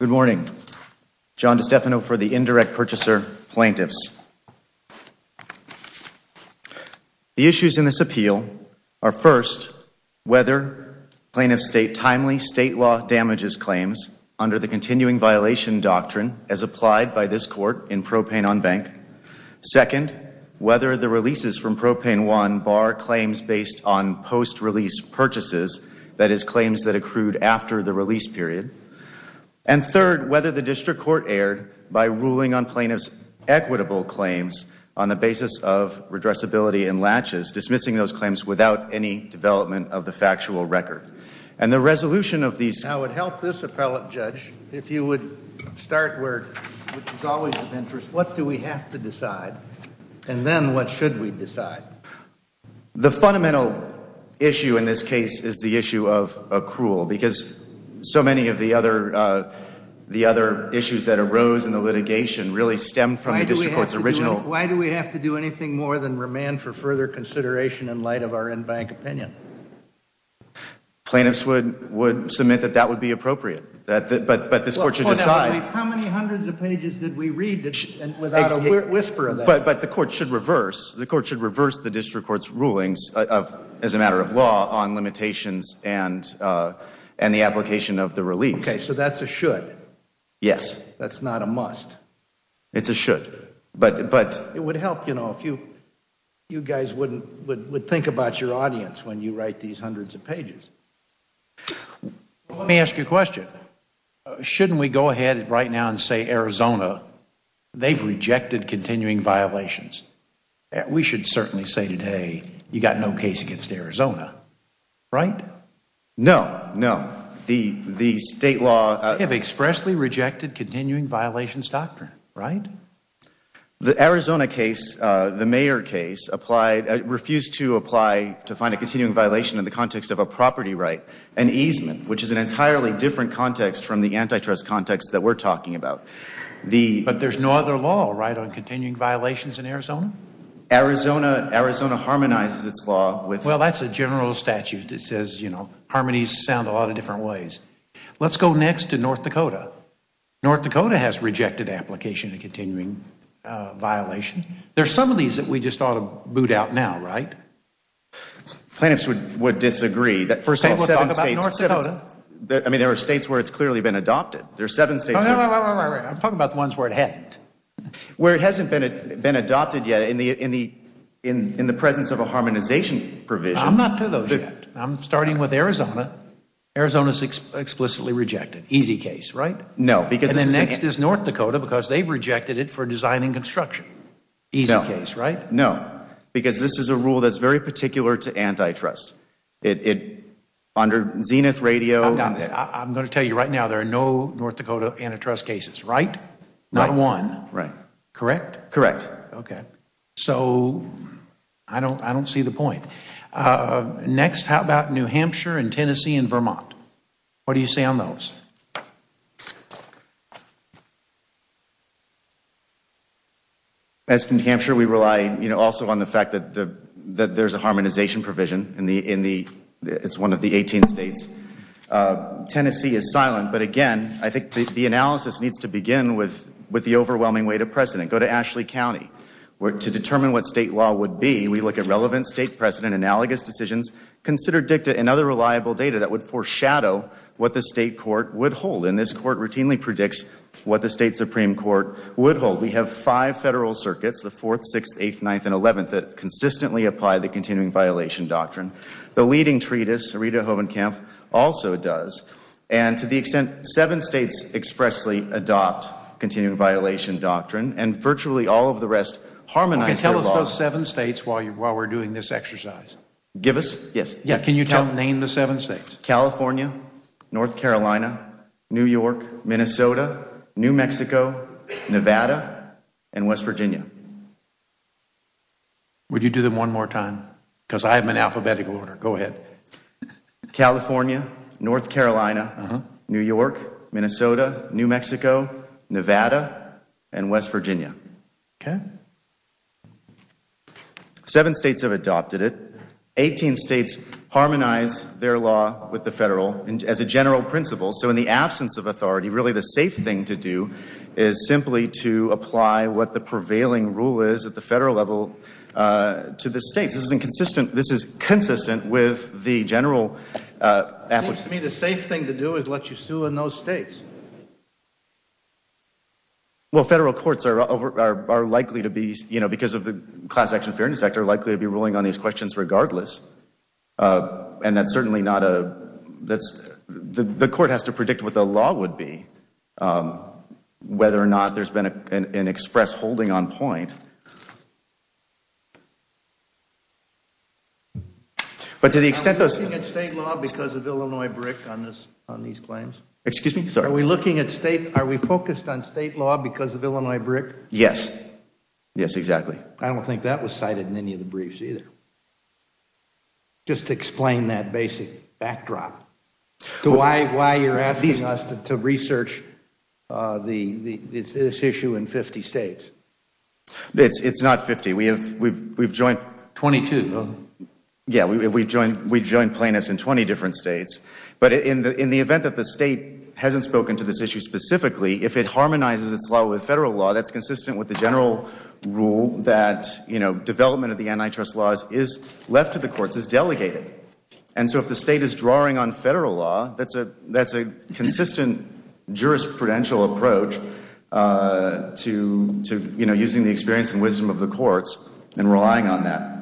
Good morning. John DiStefano for the Indirect Purchaser Plaintiffs. The issues in this appeal are first, whether plaintiff state timely state law damages claims under the continuing violation doctrine as applied by this court in Propane on Bank. Second, whether the releases from Propane One bar claims based on post-release purchases, that is claims that accrued after the release period. And third, whether the district court erred by ruling on plaintiff's equitable claims on the basis of redressability and latches, dismissing those claims without any development of the factual record. And the resolution of these... I would help this appellate judge if you would start where, which is always of interest, what do we have to decide? And then what should we decide? The fundamental issue in this case is the issue of accrual, because so many of the other issues that arose in the litigation really stem from the district court's original... Why do we have to do anything more than remand for further consideration in light of our in-bank opinion? Plaintiffs would submit that that would be appropriate, but this court should decide... How many hundreds of pages did we read without a whisper of that? But the court should reverse, the court should reverse the district court's rulings as a matter of law on limitations and the application of the release. Okay, so that's a should. Yes. That's not a must. It's a should. But it would help, you know, if you guys would think about your audience when you write these hundreds of pages. Let me ask you a question. Shouldn't we go ahead right now and say Arizona, they've rejected continuing violations? We should certainly say today, you've got no case against Arizona, right? No, no. The state law... They have expressly rejected continuing violations doctrine, right? The Arizona case, the mayor case, refused to apply to find a continuing violation in the context of a property right, an easement, which is an entirely different context from the antitrust context that we're talking about. But there's no other law, right, on continuing violations in Arizona? Arizona, Arizona harmonizes its law with... Well, that's a general statute that says, you know, harmonies sound a lot of different ways. Let's go next to North Dakota. North Dakota has rejected application of continuing violation. There's some of these that we just ought to boot out now, right? Plaintiffs would disagree. First of all, there are states where it's clearly been adopted. There are seven states... Wait, wait, wait. I'm talking about the ones where it hasn't. Where it hasn't been adopted yet in the presence of a harmonization provision. I'm not to those yet. I'm starting with Arizona. Arizona's explicitly rejected. Easy case, right? No, because... And then next is North Dakota, because they've rejected it for designing construction. Easy case, right? No. Because this is a rule that's very particular to antitrust. Under Zenith Radio... I'm going to tell you right now, there are no North Dakota antitrust cases, right? Not one. Right. Correct? Correct. Okay. So, I don't see the point. Next how about New Hampshire and Tennessee and Vermont? What do you say on those? As New Hampshire, we rely, you know, also on the fact that there's a harmonization provision in the... It's one of the 18 states. Tennessee is silent, but again, I think the analysis needs to begin with the overwhelming weight of precedent. Go to Ashley County. To determine what state law would be, we look at relevant state precedent, analogous decisions, consider dicta, and other reliable data that would foreshadow what the state court would hold. And this court routinely predicts what the state Supreme Court would hold. We have five federal circuits, the 4th, 6th, 8th, 9th, and 11th, that consistently apply the continuing violation doctrine. The leading treatise, Rita Hovenkamp, also does. And to the extent seven states expressly adopt continuing violation doctrine, and virtually all of the rest harmonize their law. Okay. Tell us those seven states while we're doing this exercise. Give us? Yes. Yeah. Can you name the seven states? California, North Carolina, New York, Minnesota, New Mexico, Nevada, and West Virginia. Would you do them one more time? Because I'm in alphabetical order. Go ahead. California, North Carolina, New York, Minnesota, New Mexico, Nevada, and West Virginia. Seven states have adopted it. Eighteen states harmonize their law with the federal as a general principle. So in the absence of authority, really the safe thing to do is simply to apply what the prevailing rule is at the federal level to the states. This is consistent with the general application. It seems to me the safe thing to do is let you sue in those states. Well, federal courts are likely to be, you know, because of the Class Action Fairness Act, are likely to be ruling on these questions regardless. And that's certainly not a that's the court has to predict what the law would be. Whether or not there's been an express holding on point. But to the extent those state law because of Illinois brick on this on these claims, excuse me, are we looking at state are we focused on state law because of Illinois brick? Yes. Yes, exactly. I don't think that was cited in any of the briefs either. Just explain that basic backdrop to why why you're asking us to research the issue in 50 states. It's not 50. We have we've we've joined 22. Yeah, we've joined we've joined plaintiffs in 20 different states. But in the in the event that the state hasn't spoken to this issue specifically, if it harmonizes its law with federal law, that's consistent with the general rule that, you know, the defendant's case is left to the courts, is delegated. And so if the state is drawing on federal law, that's a that's a consistent jurisprudential approach to to, you know, using the experience and wisdom of the courts and relying on that.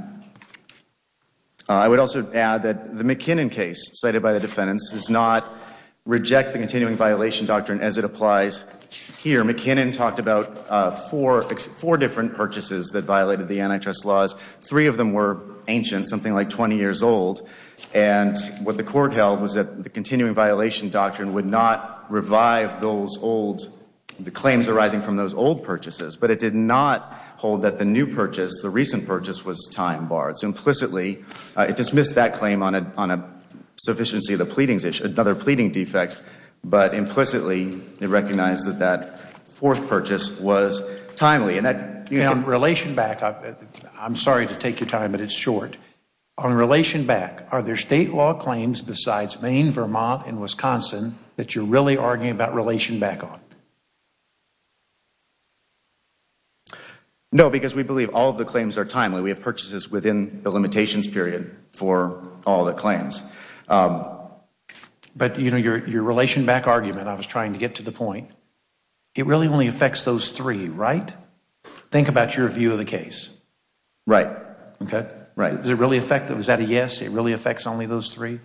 I would also add that the McKinnon case cited by the defendants does not reject the continuing violation doctrine as it applies here. McKinnon talked about four, four different purchases that violated the antitrust laws. Three of them were ancient, something like 20 years old. And what the court held was that the continuing violation doctrine would not revive those old claims arising from those old purchases. But it did not hold that the new purchase, the recent purchase was time barred. So implicitly, it dismissed that claim on a on a sufficiency of the pleadings, another implicitly, it recognized that that fourth purchase was timely and that in relation back up. I'm sorry to take your time, but it's short on relation back. Are there state law claims besides Maine, Vermont and Wisconsin that you're really arguing about relation back on? No, because we believe all of the claims are timely, we have purchases within the limitations period for all the claims. But, you know, your your relation back argument, I was trying to get to the point, it really only affects those three, right? Think about your view of the case. Right. OK, right. Is it really effective? Is that a yes? It really affects only those three?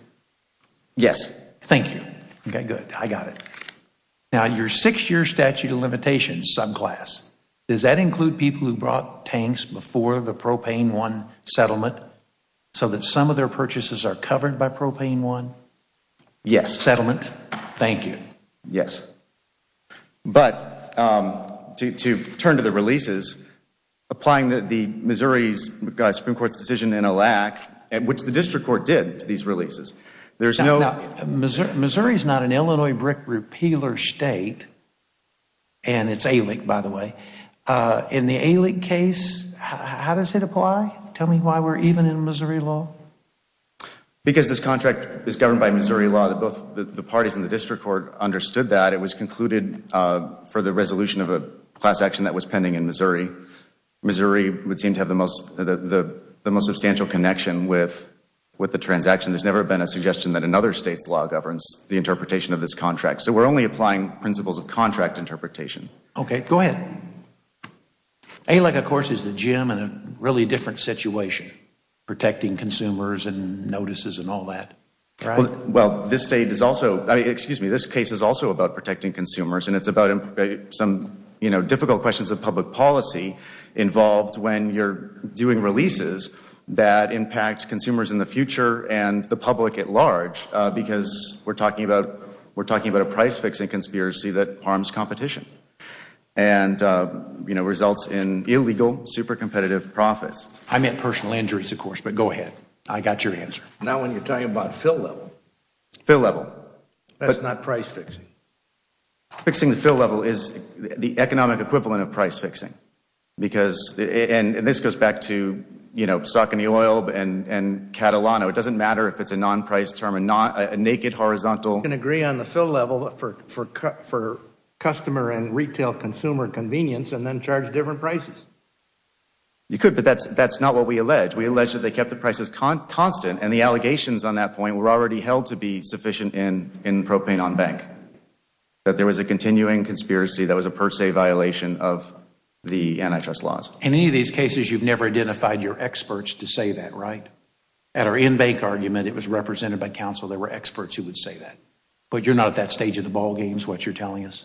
Yes. Thank you. OK, good. I got it. Now, your six year statute of limitations subclass, does that include people who brought tanks before the propane one settlement so that some of their purchases are covered by propane one? Yes. Settlement. Thank you. Yes. But to turn to the releases, applying the Missouri's Supreme Court's decision in a lack, which the district court did to these releases. There's no Missouri. Missouri is not an Illinois brick repealer state. And it's a leak, by the way, in the elite case, how does it apply? Tell me why we're even in Missouri law. Because this contract is governed by Missouri law, that both the parties in the district court understood that it was concluded for the resolution of a class action that was pending in Missouri. Missouri would seem to have the most the most substantial connection with with the transaction. There's never been a suggestion that another state's law governs the interpretation of this contract. So we're only applying principles of contract interpretation. OK, go ahead. I like, of course, is the gym in a really different situation, protecting consumers and notices and all that. Well, this state is also excuse me. This case is also about protecting consumers and it's about some difficult questions of public policy involved when you're doing releases that impact consumers in the future and the public at large, because we're talking about we're talking about a price fixing conspiracy that harms competition. And, you know, results in illegal, super competitive profits. I meant personal injuries, of course. But go ahead. I got your answer. Now, when you're talking about fill level, fill level, that's not price fixing. Fixing the fill level is the economic equivalent of price fixing, because and this goes back to, you know, suck in the oil and Catalano. It doesn't matter if it's a non price term and not a naked horizontal. You can agree on the fill level for for for customer and retail consumer convenience and then charge different prices. You could, but that's that's not what we allege. We allege that they kept the prices constant and the allegations on that point were already held to be sufficient in in propane on bank, that there was a continuing conspiracy that was a per se violation of the antitrust laws. In any of these cases, you've never identified your experts to say that right at or in bank argument. It was represented by counsel. There were experts who would say that. But you're not at that stage of the ballgames, what you're telling us.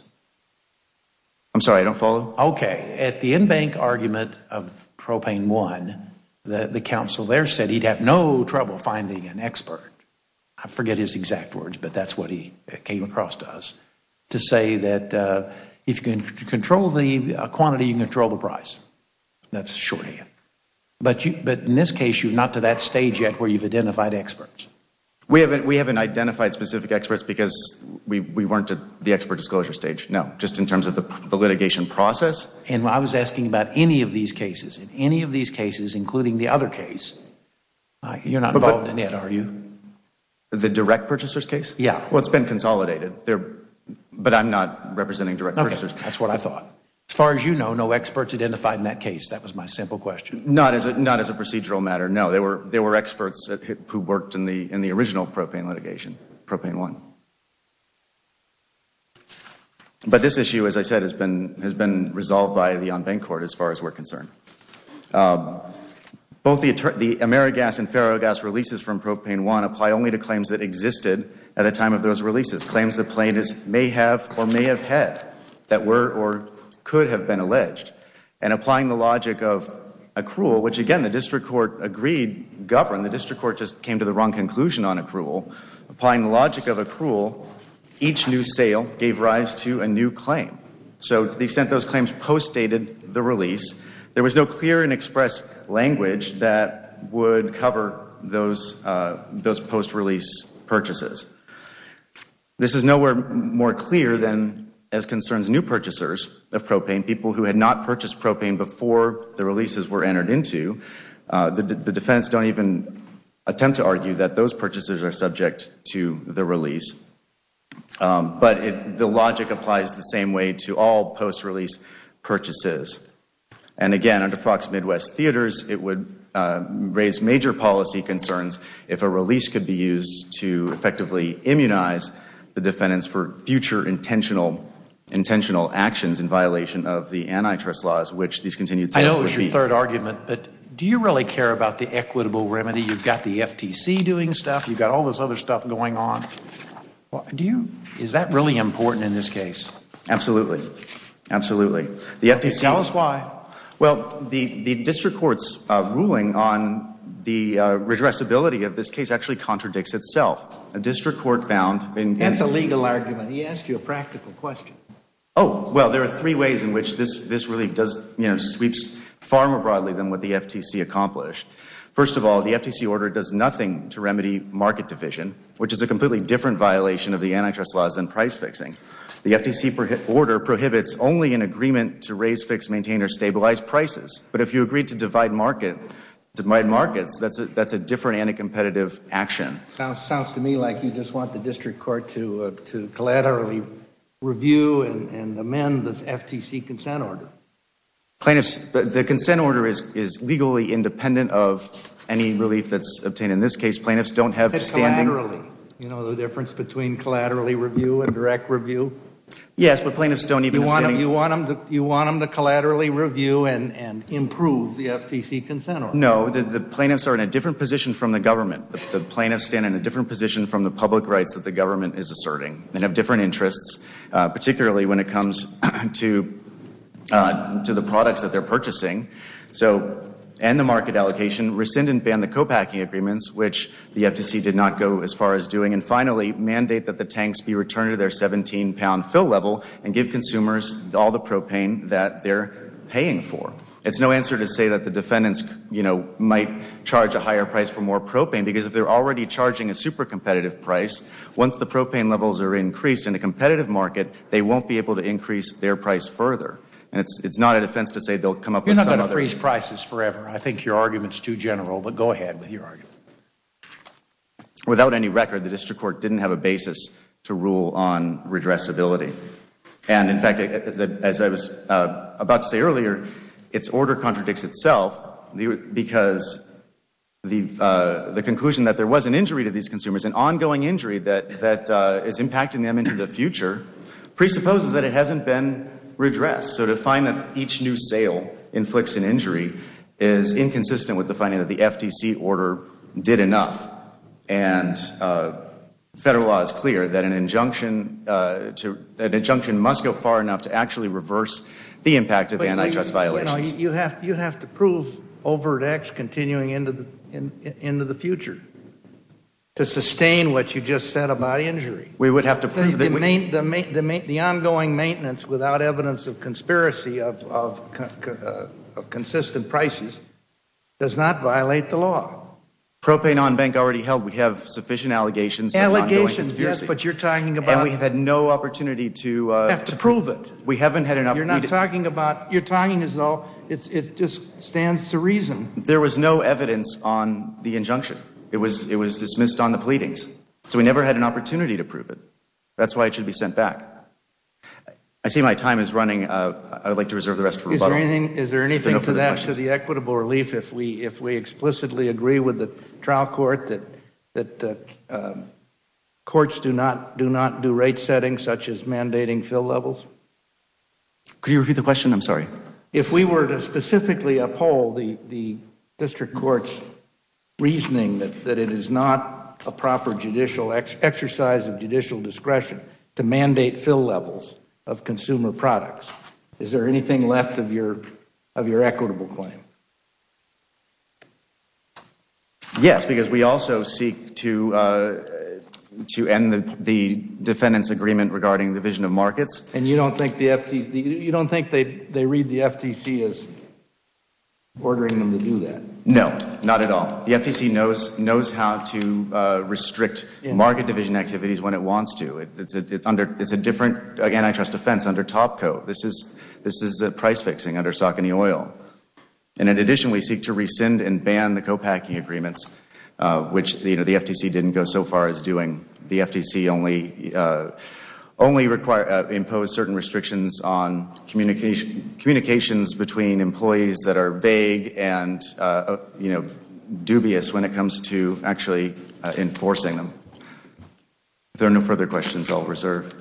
I'm sorry, I don't follow. OK, at the in bank argument of propane one, the counsel there said he'd have no trouble finding an expert. I forget his exact words, but that's what he came across to us to say that if you can control the quantity, you control the price. That's short. But but in this case, you're not to that stage yet where you've identified experts. We haven't we haven't identified specific experts because we weren't at the expert disclosure stage. No, just in terms of the litigation process. And I was asking about any of these cases in any of these cases, including the other case. You're not involved in it, are you? The direct purchasers case? Yeah, well, it's been consolidated there, but I'm not representing direct purchasers. That's what I thought. As far as you know, no experts identified in that case. That was my simple question. Not as not as a procedural matter. No, there were there were experts who worked in the in the original propane litigation, propane one. But this issue, as I said, has been has been resolved by the on bank court as far as we're concerned. Both the the Amerigas and Ferrogas releases from propane one apply only to claims that existed at the time of those releases, claims the plaintiffs may have or may have had that were or could have been alleged. And applying the logic of accrual, which, again, the district court agreed governed, the district court just came to the wrong conclusion on accrual. Applying the logic of accrual, each new sale gave rise to a new claim. So to the extent those claims post dated the release, there was no clear and express language that would cover those those post release purchases. This is nowhere more clear than as concerns new purchasers of propane, people who had not purchased propane before the releases were entered into. The defendants don't even attempt to argue that those purchases are subject to the release. But the logic applies the same way to all post release purchases. And again, under Fox Midwest Theaters, it would raise major policy concerns if a release could be used to effectively immunize the defendants for future intentional actions in violation of the antitrust laws, which these continued. I know it's your third argument, but do you really care about the equitable remedy? You've got the FTC doing stuff. You've got all this other stuff going on. Do you. Is that really important in this case? Absolutely. Absolutely. The FTC. Tell us why. Well, the district court's ruling on the redress ability of this case actually contradicts itself. A district court found. That's a legal argument. He asked you a practical question. Oh, well, there are three ways in which this this really does sweeps far more broadly than what the FTC accomplished. First of all, the FTC order does nothing to remedy market division, which is a completely different violation of the antitrust laws and price fixing. The FTC order prohibits only an agreement to raise, fix, maintain or stabilize prices. But if you agree to divide market, divide markets, that's a that's a different anti-competitive action. Sounds to me like you just want the district court to to collaterally review and amend the FTC consent order. Plaintiffs, the consent order is is legally independent of any relief that's obtained in this case. Plaintiffs don't have standing. You know, the difference between collaterally review and direct review. Yes, but plaintiffs don't even want to. You want them to. You want them to collaterally review and improve the FTC consent? No, the plaintiffs are in a different position from the government. The plaintiffs stand in a different position from the public rights that the government is asserting and have different interests, particularly when it comes to to the products that they're purchasing. So end the market allocation, rescind and ban the copacking agreements, which the FTC did not go as far as doing. And finally, mandate that the tanks be returned to their 17 pound fill level and give consumers all the propane that they're paying for. It's no answer to say that the defendants, you know, might charge a higher price for more propane, because if they're already charging a super competitive price, once the propane levels are increased in a competitive market, they won't be able to increase their price further. And it's not a defense to say they'll come up with some other. You're not going to freeze prices forever. I think your argument is too general. But go ahead with your argument. Without any record, the district court didn't have a basis to rule on redressability. And in fact, as I was about to say earlier, its order contradicts itself, because the conclusion that there was an injury to these consumers, an ongoing injury that is impacting them into the future, presupposes that it hasn't been redressed. So to find that each new sale inflicts an injury is inconsistent with the finding that the FTC order did enough. And federal law is clear that an injunction to an injunction must go far enough to actually reverse the impact of antitrust violations. You have to prove Overt X continuing into the future to sustain what you just said about injury. We would have to prove it. The ongoing maintenance without evidence of conspiracy of consistent prices does not violate the law. Propane on bank already held. We have sufficient allegations. Allegations, yes, but you're talking about. And we've had no opportunity to. Have to prove it. We haven't had enough. You're talking as though it just stands to reason. There was no evidence on the injunction. It was dismissed on the pleadings. So we never had an opportunity to prove it. That's why it should be sent back. I see my time is running. I would like to reserve the rest for rebuttal. Is there anything to that to the equitable relief if we explicitly agree with the trial court that courts do not do rate settings such as mandating fill levels? Could you repeat the question? I'm sorry. If we were to specifically uphold the district courts reasoning that it is not a proper judicial exercise of judicial discretion to mandate fill levels of consumer products, is there anything left of your of your equitable claim? Yes, because we also seek to to end the defendant's agreement regarding the vision of markets. And you don't think they read the FTC as ordering them to do that? No, not at all. The FTC knows how to restrict market division activities when it wants to. It's a different antitrust defense under Topco. This is price fixing under Saucony Oil. And in addition, we seek to rescind and ban the copacking agreements, which the FTC didn't go so far as doing. The FTC only only require impose certain restrictions on communication communications between employees that are vague and dubious when it comes to actually enforcing them. If there are no further questions, I'll reserve.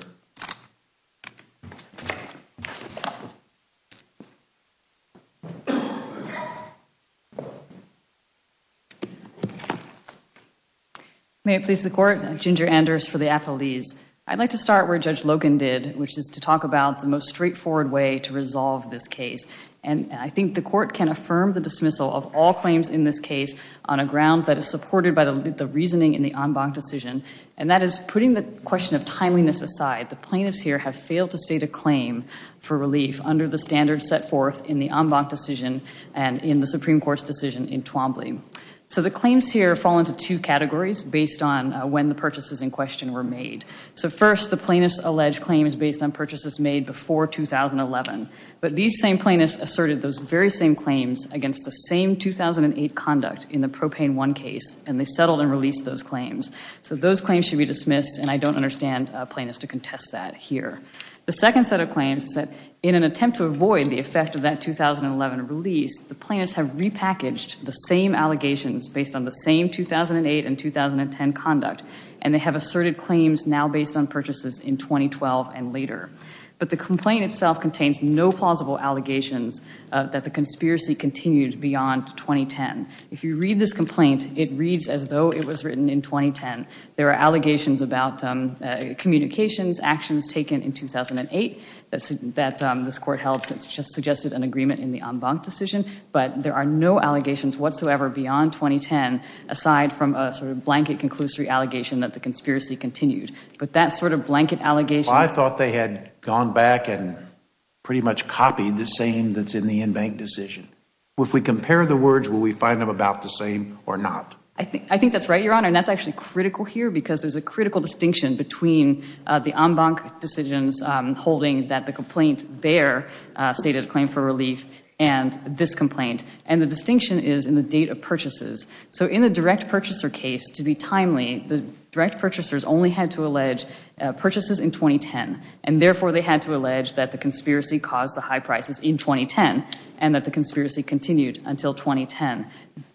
May it please the court. Ginger Anders for the athletes. I'd like to start where Judge Logan did, which is to talk about the most straightforward way to resolve this case. And I think the court can affirm the dismissal of all claims in this case on a ground that is supported by the reasoning in the en banc decision. And that is putting the question of timeliness aside. The plaintiffs here have failed to state a claim for relief under the standards set forth in the en banc decision and in the Supreme Court's decision in Twombly. So the claims here fall into two categories based on when the purchases in question were made. So first, the plaintiff's alleged claim is based on purchases made before 2011. But these same plaintiffs asserted those very same claims against the same 2008 conduct in the Propane One case, and they settled and released those claims. So those claims should be dismissed, and I don't understand plaintiffs to contest that here. The second set of claims is that in an attempt to avoid the effect of that 2011 release, the plaintiffs have repackaged the same allegations based on the same 2008 and 2010 conduct, and they have asserted claims now based on purchases in 2012 and later. But the complaint itself contains no plausible allegations that the conspiracy continues beyond 2010. If you read this complaint, it reads as though it was written in 2010. There are allegations about communications, actions taken in 2008 that this court held since it just suggested an agreement in the en banc decision, but there are no allegations whatsoever beyond 2010 aside from a sort of blanket conclusory allegation that the conspiracy continued. But that sort of blanket allegation— I thought they had gone back and pretty much copied the same that's in the en banc decision. If we compare the words, will we find them about the same or not? I think that's right, Your Honor, and that's actually critical here because there's a critical distinction between the en banc decisions holding that the complaint there stated a claim for relief and this complaint, and the distinction is in the date of purchases. So in a direct purchaser case, to be timely, the direct purchasers only had to allege purchases in 2010, and therefore they had to allege that the conspiracy caused the high prices in 2010 and that the conspiracy continued until 2010.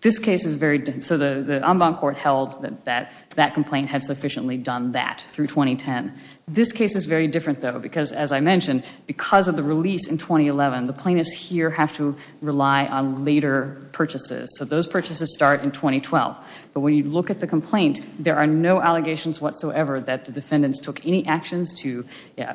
This case is very—so the en banc court held that that complaint had sufficiently done that through 2010. This case is very different, though, because, as I mentioned, because of the release in 2011, the plaintiffs here have to rely on later purchases. So those purchases start in 2012. But when you look at the complaint, there are no allegations whatsoever that the defendants took any actions to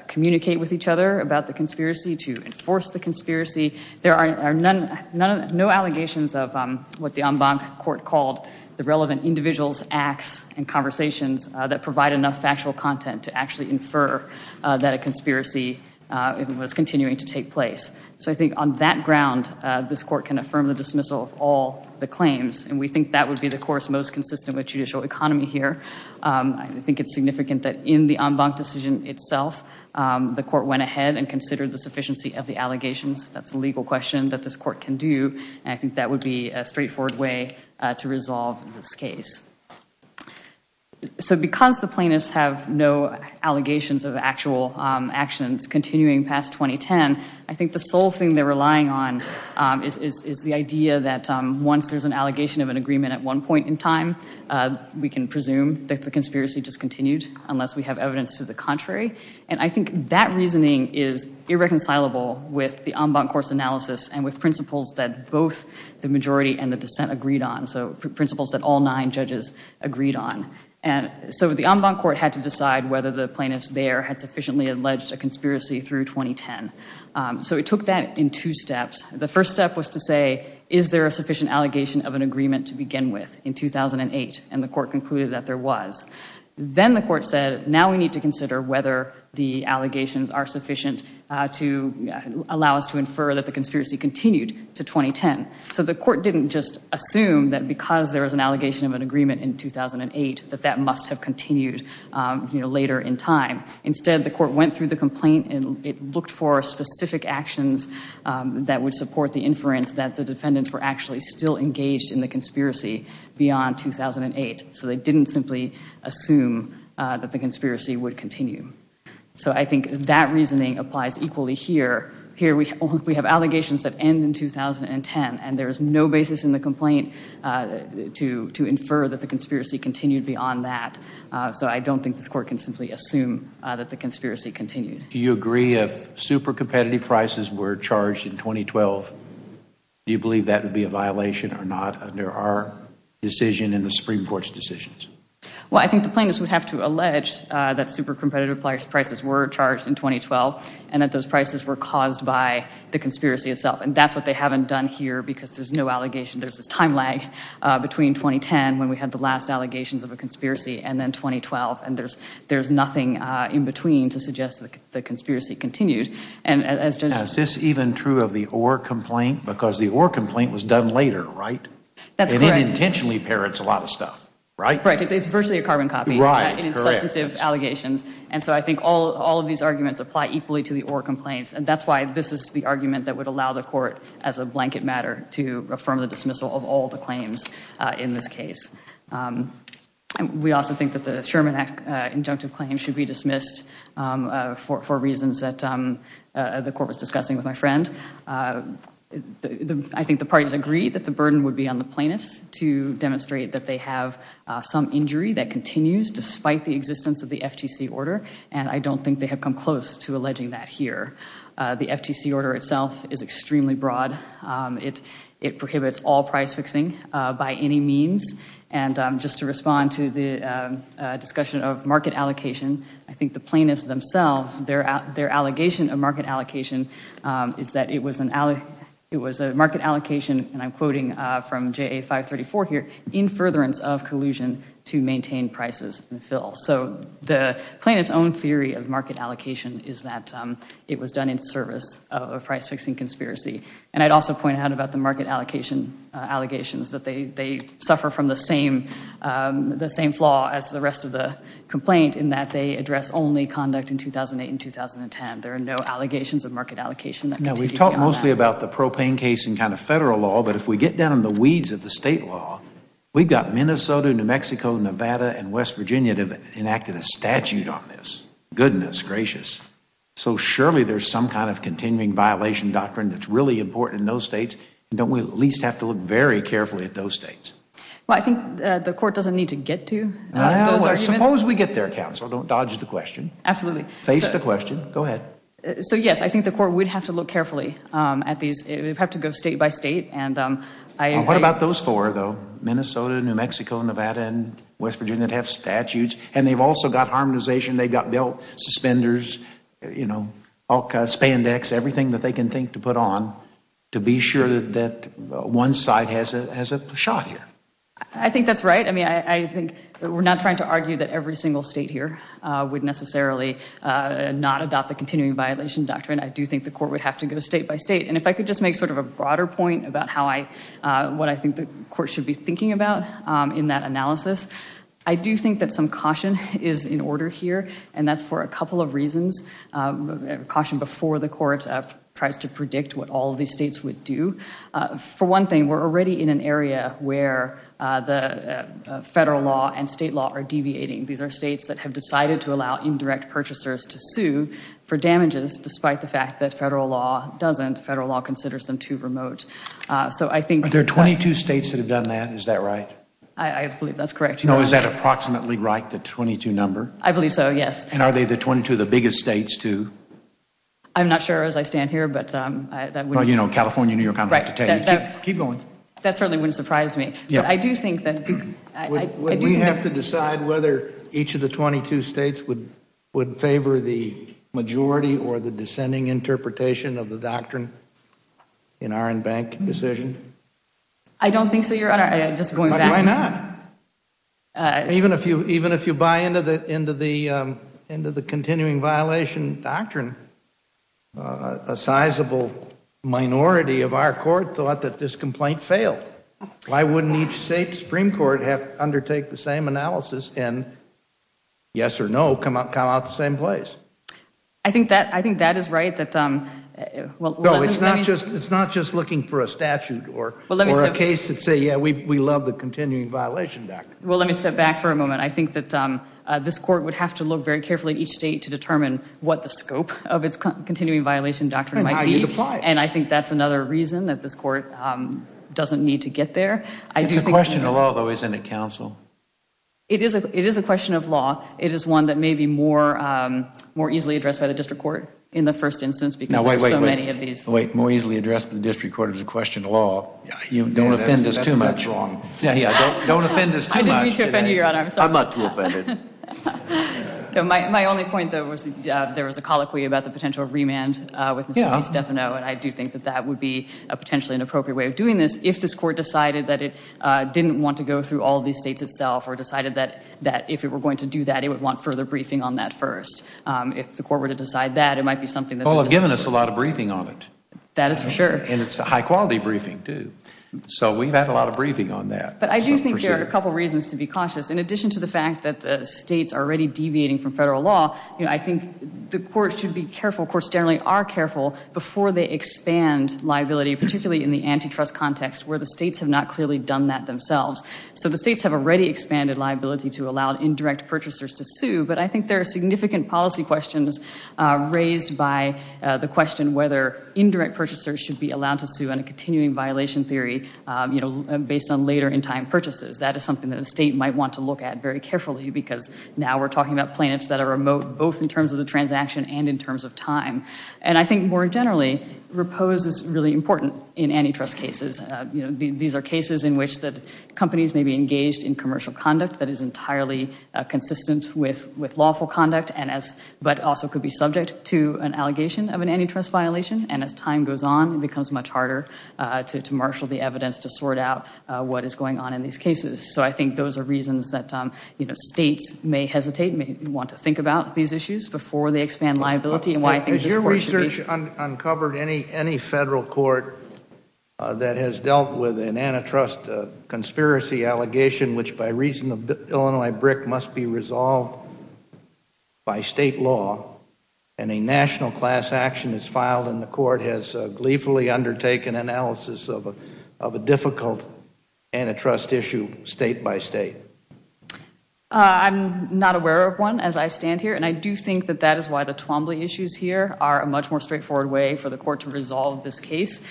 communicate with each other about the conspiracy, to enforce the conspiracy. There are no allegations of what the en banc court called the relevant individuals, acts, and conversations that provide enough factual content to actually infer that a conspiracy was continuing to take place. So I think on that ground, this court can affirm the dismissal of all the claims, and we think that would be the course most consistent with judicial economy here. I think it's significant that in the en banc decision itself, the court went ahead and considered the sufficiency of the allegations. That's a legal question that this court can do, and I think that would be a straightforward way to resolve this case. So because the plaintiffs have no allegations of actual actions continuing past 2010, I think the sole thing they're relying on is the idea that once there's an allegation of an agreement at one point in time, we can presume that the conspiracy just continued unless we have evidence to the contrary. And I think that reasoning is irreconcilable with the en banc court's analysis and with principles that both the majority and the dissent agreed on. So principles that all nine judges agreed on. And so the en banc court had to decide whether the plaintiffs there had sufficiently alleged a conspiracy through 2010. So it took that in two steps. The first step was to say, is there a sufficient allegation of an agreement to begin with in 2008? And the court concluded that there was. Then the court said, now we need to consider whether the allegations are sufficient to allow us to infer that the conspiracy continued to 2010. So the court didn't just assume that because there was an allegation of an agreement in 2008 that that must have continued later in time. Instead, the court went through the complaint and it looked for specific actions that would support the inference that the defendants were actually still engaged in the conspiracy beyond 2008. So they didn't simply assume that the conspiracy would continue. So I think that reasoning applies equally here. Here we have allegations that end in 2010 and there is no basis in the complaint to infer that the conspiracy continued beyond that. So I don't think this court can simply assume that the conspiracy continued. Do you agree if super competitive prices were charged in 2012, do you believe that would be a violation or not under our decision and the Supreme Court's decisions? Well, I think the plaintiffs would have to allege that super competitive prices were charged in 2012 and that those prices were caused by the conspiracy itself. And that's what they haven't done here because there's no allegation. There's this time lag between 2010 when we had the last allegations of a conspiracy and then 2012. There's nothing in between to suggest that the conspiracy continued. Is this even true of the Orr complaint? Because the Orr complaint was done later, right? That's correct. And it intentionally parrots a lot of stuff, right? Correct. It's virtually a carbon copy in substantive allegations. And so I think all of these arguments apply equally to the Orr complaints. And that's why this is the argument that would allow the court, as a blanket matter, to affirm the dismissal of all the claims in this case. And we also think that the Sherman Act injunctive claim should be dismissed for reasons that the court was discussing with my friend. I think the parties agree that the burden would be on the plaintiffs to demonstrate that they have some injury that continues despite the existence of the FTC order. And I don't think they have come close to alleging that here. The FTC order itself is extremely broad. It prohibits all price fixing by any means. And just to respond to the discussion of market allocation, I think the plaintiffs themselves, their allegation of market allocation is that it was a market allocation, and I'm quoting from JA 534 here, in furtherance of collusion to maintain prices and fill. So the plaintiff's own theory of market allocation is that it was done in service of a price fixing conspiracy. And I'd also point out about the market allocation, allegations that they suffer from the same flaw as the rest of the complaint, in that they address only conduct in 2008 and 2010. There are no allegations of market allocation. Now, we've talked mostly about the propane case in kind of federal law, but if we get down in the weeds of the state law, we've got Minnesota, New Mexico, Nevada, and West Virginia that have enacted a statute on this. Goodness gracious. So surely there's some kind of continuing violation doctrine that's really important in those states, and don't we at least have to look very carefully at those states? Well, I think the court doesn't need to get to those arguments. Suppose we get there, counsel. Don't dodge the question. Absolutely. Face the question. Go ahead. So yes, I think the court would have to look carefully at these. It would have to go state by state. And I agree. Well, what about those four, though? Minnesota, New Mexico, Nevada, and West Virginia that have statutes. And they've also got harmonization. They've got belt suspenders, all kinds, spandex, everything that they can think to put on to be sure that one side has a shot here. I think that's right. I mean, I think we're not trying to argue that every single state here would necessarily not adopt the continuing violation doctrine. I do think the court would have to go state by state. And if I could just make sort of a broader point about what I think the court should be thinking about in that analysis, I do think that some caution is in order here. And that's for a couple of reasons. Caution before the court tries to predict what all of these states would do. For one thing, we're already in an area where the federal law and state law are deviating. These are states that have decided to allow indirect purchasers to sue for damages despite the fact that federal law doesn't. Federal law considers them too remote. So I think Are there 22 states that have done that? Is that right? I believe that's correct. No, is that approximately right, the 22 number? I believe so, yes. And are they the 22 of the biggest states too? I'm not sure as I stand here, but that would Well, you know, California, New York, I'm about to tell you. Keep going. That certainly wouldn't surprise me. But I do think that Would we have to decide whether each of the 22 states would favor the majority or the dissenting interpretation of the doctrine in our in-bank decision? I don't think so, Your Honor. But why not? Even if you buy into the continuing violation doctrine, a sizable minority of our court thought that this complaint failed. Why wouldn't each state Supreme Court undertake the same analysis and, yes or no, come out the same place? I think that is right. No, it's not just looking for a statute or a case that say, we love the continuing violation doctrine. Well, let me step back for a moment. I think that this court would have to look very carefully at each state to determine what the scope of its continuing violation doctrine might be. And I think that's another reason that this court doesn't need to get there. It's a question of law, though, isn't it, counsel? It is a question of law. It is one that may be more easily addressed by the district court in the first instance because there's so many of these Wait, more easily addressed by the district court is a question of law. You don't offend us too much. Don't offend us too much. I didn't mean to offend you, Your Honor. I'm not too offended. My only point, though, was there was a colloquy about the potential of remand with Mr. DeStefano. And I do think that that would be a potentially inappropriate way of doing this if this court decided that it didn't want to go through all these states itself or decided that if it were going to do that, it would want further briefing on that first. If the court were to decide that, it might be something that Well, they've given us a lot of briefing on it. That is for sure. And it's a high quality briefing, too. So we've had a lot of briefing on that. But I do think there are a couple of reasons to be cautious. In addition to the fact that the states are already deviating from federal law, I think the court should be careful. Courts generally are careful before they expand liability, particularly in the antitrust context, where the states have not clearly done that themselves. So the states have already expanded liability to allow indirect purchasers to sue. But I think there are significant policy questions raised by the question whether indirect purchasers should be allowed to sue on a continuing violation theory based on later in time purchases. That is something that the state might want to look at very carefully because now we're talking about plaintiffs that are remote both in terms of the transaction and in terms of time. And I think more generally, repose is really important in antitrust cases. These are cases in which companies may be engaged in commercial conduct that is entirely consistent with lawful conduct but also could be subject to an allegation of an antitrust violation. And as time goes on, it becomes much harder to marshal the evidence to sort out what is going on in these cases. So I think those are reasons that states may hesitate, may want to think about these issues before they expand liability. And why I think this court should be— Has your research uncovered any federal court that has dealt with an antitrust conspiracy allegation which by reason of Illinois BRIC must be resolved? By state law and a national class action is filed and the court has gleefully undertaken analysis of a difficult antitrust issue state by state. I'm not aware of one as I stand here. And I do think that that is why the Twombly issues here are a much more straightforward way for the court to resolve this case.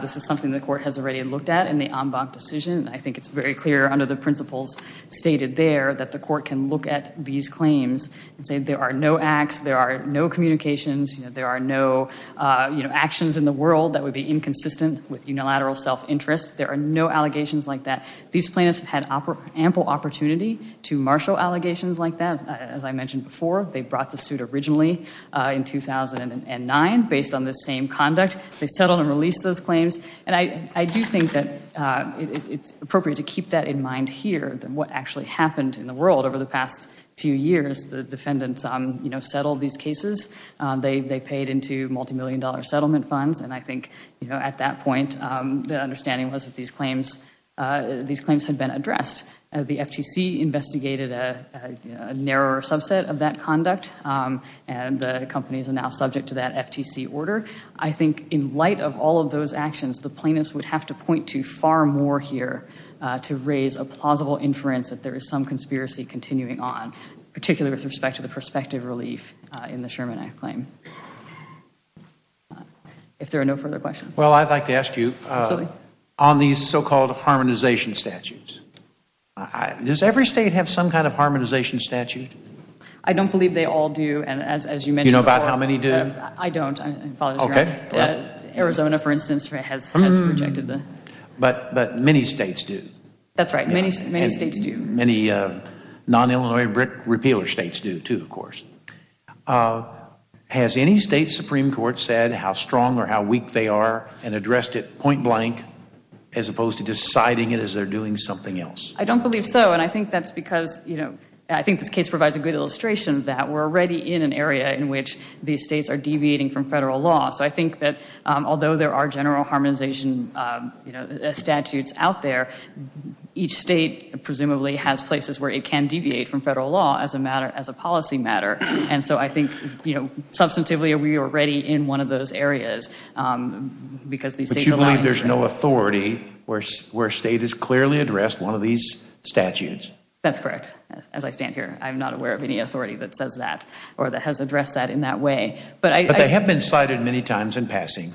This is something the court has already looked at in the Ambach decision. I think it's very clear under the principles stated there that the court can look at these claims and say there are no acts, there are no communications, there are no actions in the world that would be inconsistent with unilateral self-interest. There are no allegations like that. These plaintiffs have had ample opportunity to marshal allegations like that. As I mentioned before, they brought the suit originally in 2009 based on this same conduct. They settled and released those claims. And I do think that it's appropriate to keep that in mind here than what actually happened in the world over the past few years as the defendants settled these cases. They paid into multi-million dollar settlement funds. And I think at that point, the understanding was that these claims had been addressed. The FTC investigated a narrower subset of that conduct. And the companies are now subject to that FTC order. I think in light of all of those actions, the plaintiffs would have to point to far more here to raise a plausible inference that there is some conspiracy continuing on, particularly with respect to the prospective relief in the Sherman Act claim. If there are no further questions. Well, I'd like to ask you, on these so-called harmonization statutes, does every state have some kind of harmonization statute? I don't believe they all do. And as you mentioned before. You know about how many do? I don't. Arizona, for instance, has rejected them. But many states do. That's right. Many states do. Many non-Illinois repealer states do, too, of course. Has any state Supreme Court said how strong or how weak they are and addressed it point blank as opposed to deciding it as they're doing something else? I don't believe so. And I think that's because, you know, I think this case provides a good illustration that we're already in an area in which these states are deviating from federal law. So I think that although there are general harmonization, you know, statutes out there, each state presumably has places where it can deviate from federal law as a matter, as a policy matter. And so I think, you know, substantively we are already in one of those areas because these states align. But you believe there's no authority where a state has clearly addressed one of these statutes? That's correct. As I stand here, I'm not aware of any authority that says that or that has addressed that in that way. But they have been cited many times in passing.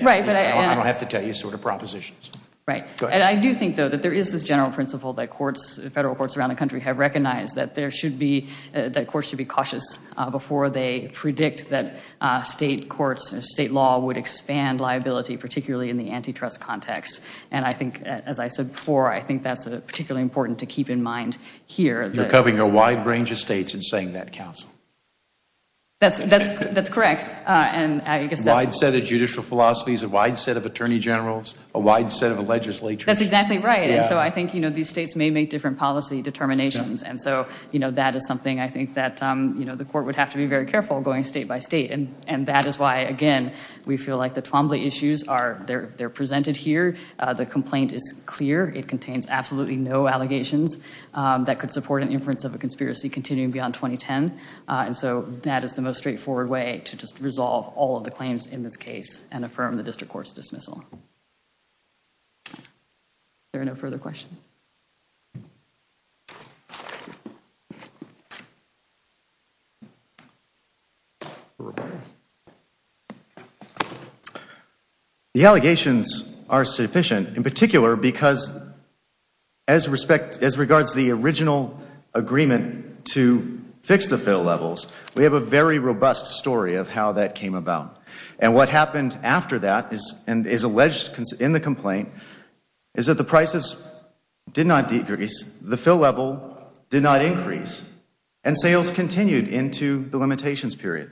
Right. And I don't have to tell you sort of propositions. Right. And I do think, though, that there is this general principle that courts, federal courts around the country have recognized that there should be, that courts should be cautious before they predict that state courts, state law would expand liability, particularly in the antitrust context. And I think, as I said before, I think that's particularly important to keep in mind here. You're covering a wide range of states and saying that, counsel. That's correct. And I guess that's... Wide set of judicial philosophies, a wide set of attorney generals, a wide set of legislatures. That's exactly right. And so I think, you know, these states may make different policy determinations. And so, you know, that is something I think that, you know, the court would have to be very careful going state by state. And that is why, again, we feel like the Twombly issues are, they're presented here. The complaint is clear. It contains absolutely no allegations that could support an inference of a conspiracy continuing beyond 2010. And so that is the most straightforward way to just resolve all of the claims in this case and affirm the district court's dismissal. All right. There are no further questions. The allegations are sufficient in particular because as respect, as regards to the original agreement to fix the fill levels, we have a very robust story of how that came about. And what happened after that is, and is alleged in the complaint, is that the prices did not decrease. The fill level did not increase. And sales continued into the limitations period.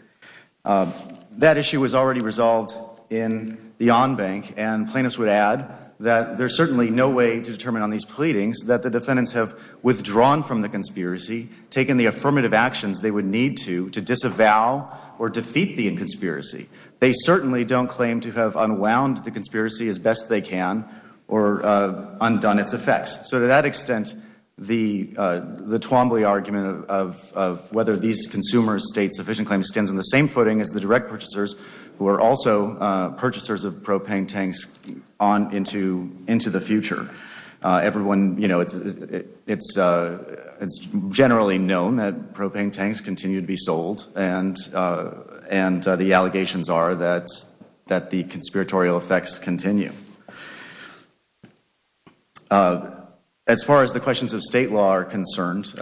That issue was already resolved in the on-bank. And plaintiffs would add that there's certainly no way to determine on these pleadings that the defendants have withdrawn from the conspiracy, taken the affirmative actions they would need to, to disavow or defeat the inconspiracy. They certainly don't claim to have unwound the conspiracy as best they can or undone its effects. So to that extent, the Twombly argument of whether these consumers state sufficient claims stands on the same footing as the direct purchasers who are also purchasers of propane tanks into the future. Everyone, you know, it's generally known that propane tanks continue to be sold and the allegations are that the conspiratorial effects continue. As far as the questions of state law are concerned,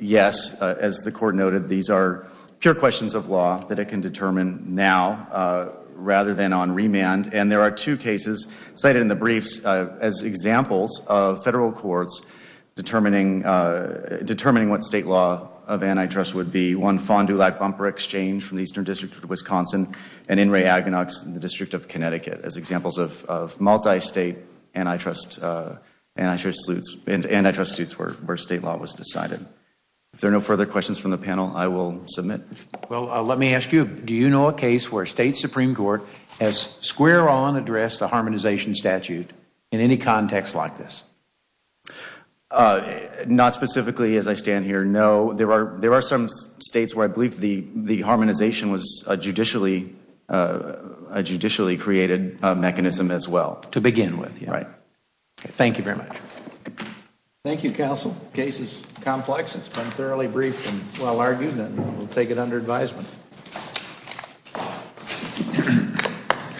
yes, as the court noted, these are pure questions of law that it can determine now rather than on remand. And there are two cases cited in the briefs as examples of federal courts determining what state law of antitrust would be. One, Fond du Lac Bumper Exchange from the Eastern District of Wisconsin and N. Ray Aginox in the District of Connecticut as examples of multi-state antitrust, antitrust suits where state law was decided. If there are no further questions from the panel, I will submit. Well, let me ask you, do you know a case where state Supreme Court has square on addressed the harmonization statute in any context like this? Not specifically as I stand here, no. There are some states where I believe the harmonization was a judicially created mechanism as well. To begin with, yeah. Right. Thank you very much. Thank you, counsel. Case is complex. It's been thoroughly briefed and well argued. And we'll take it under advisement.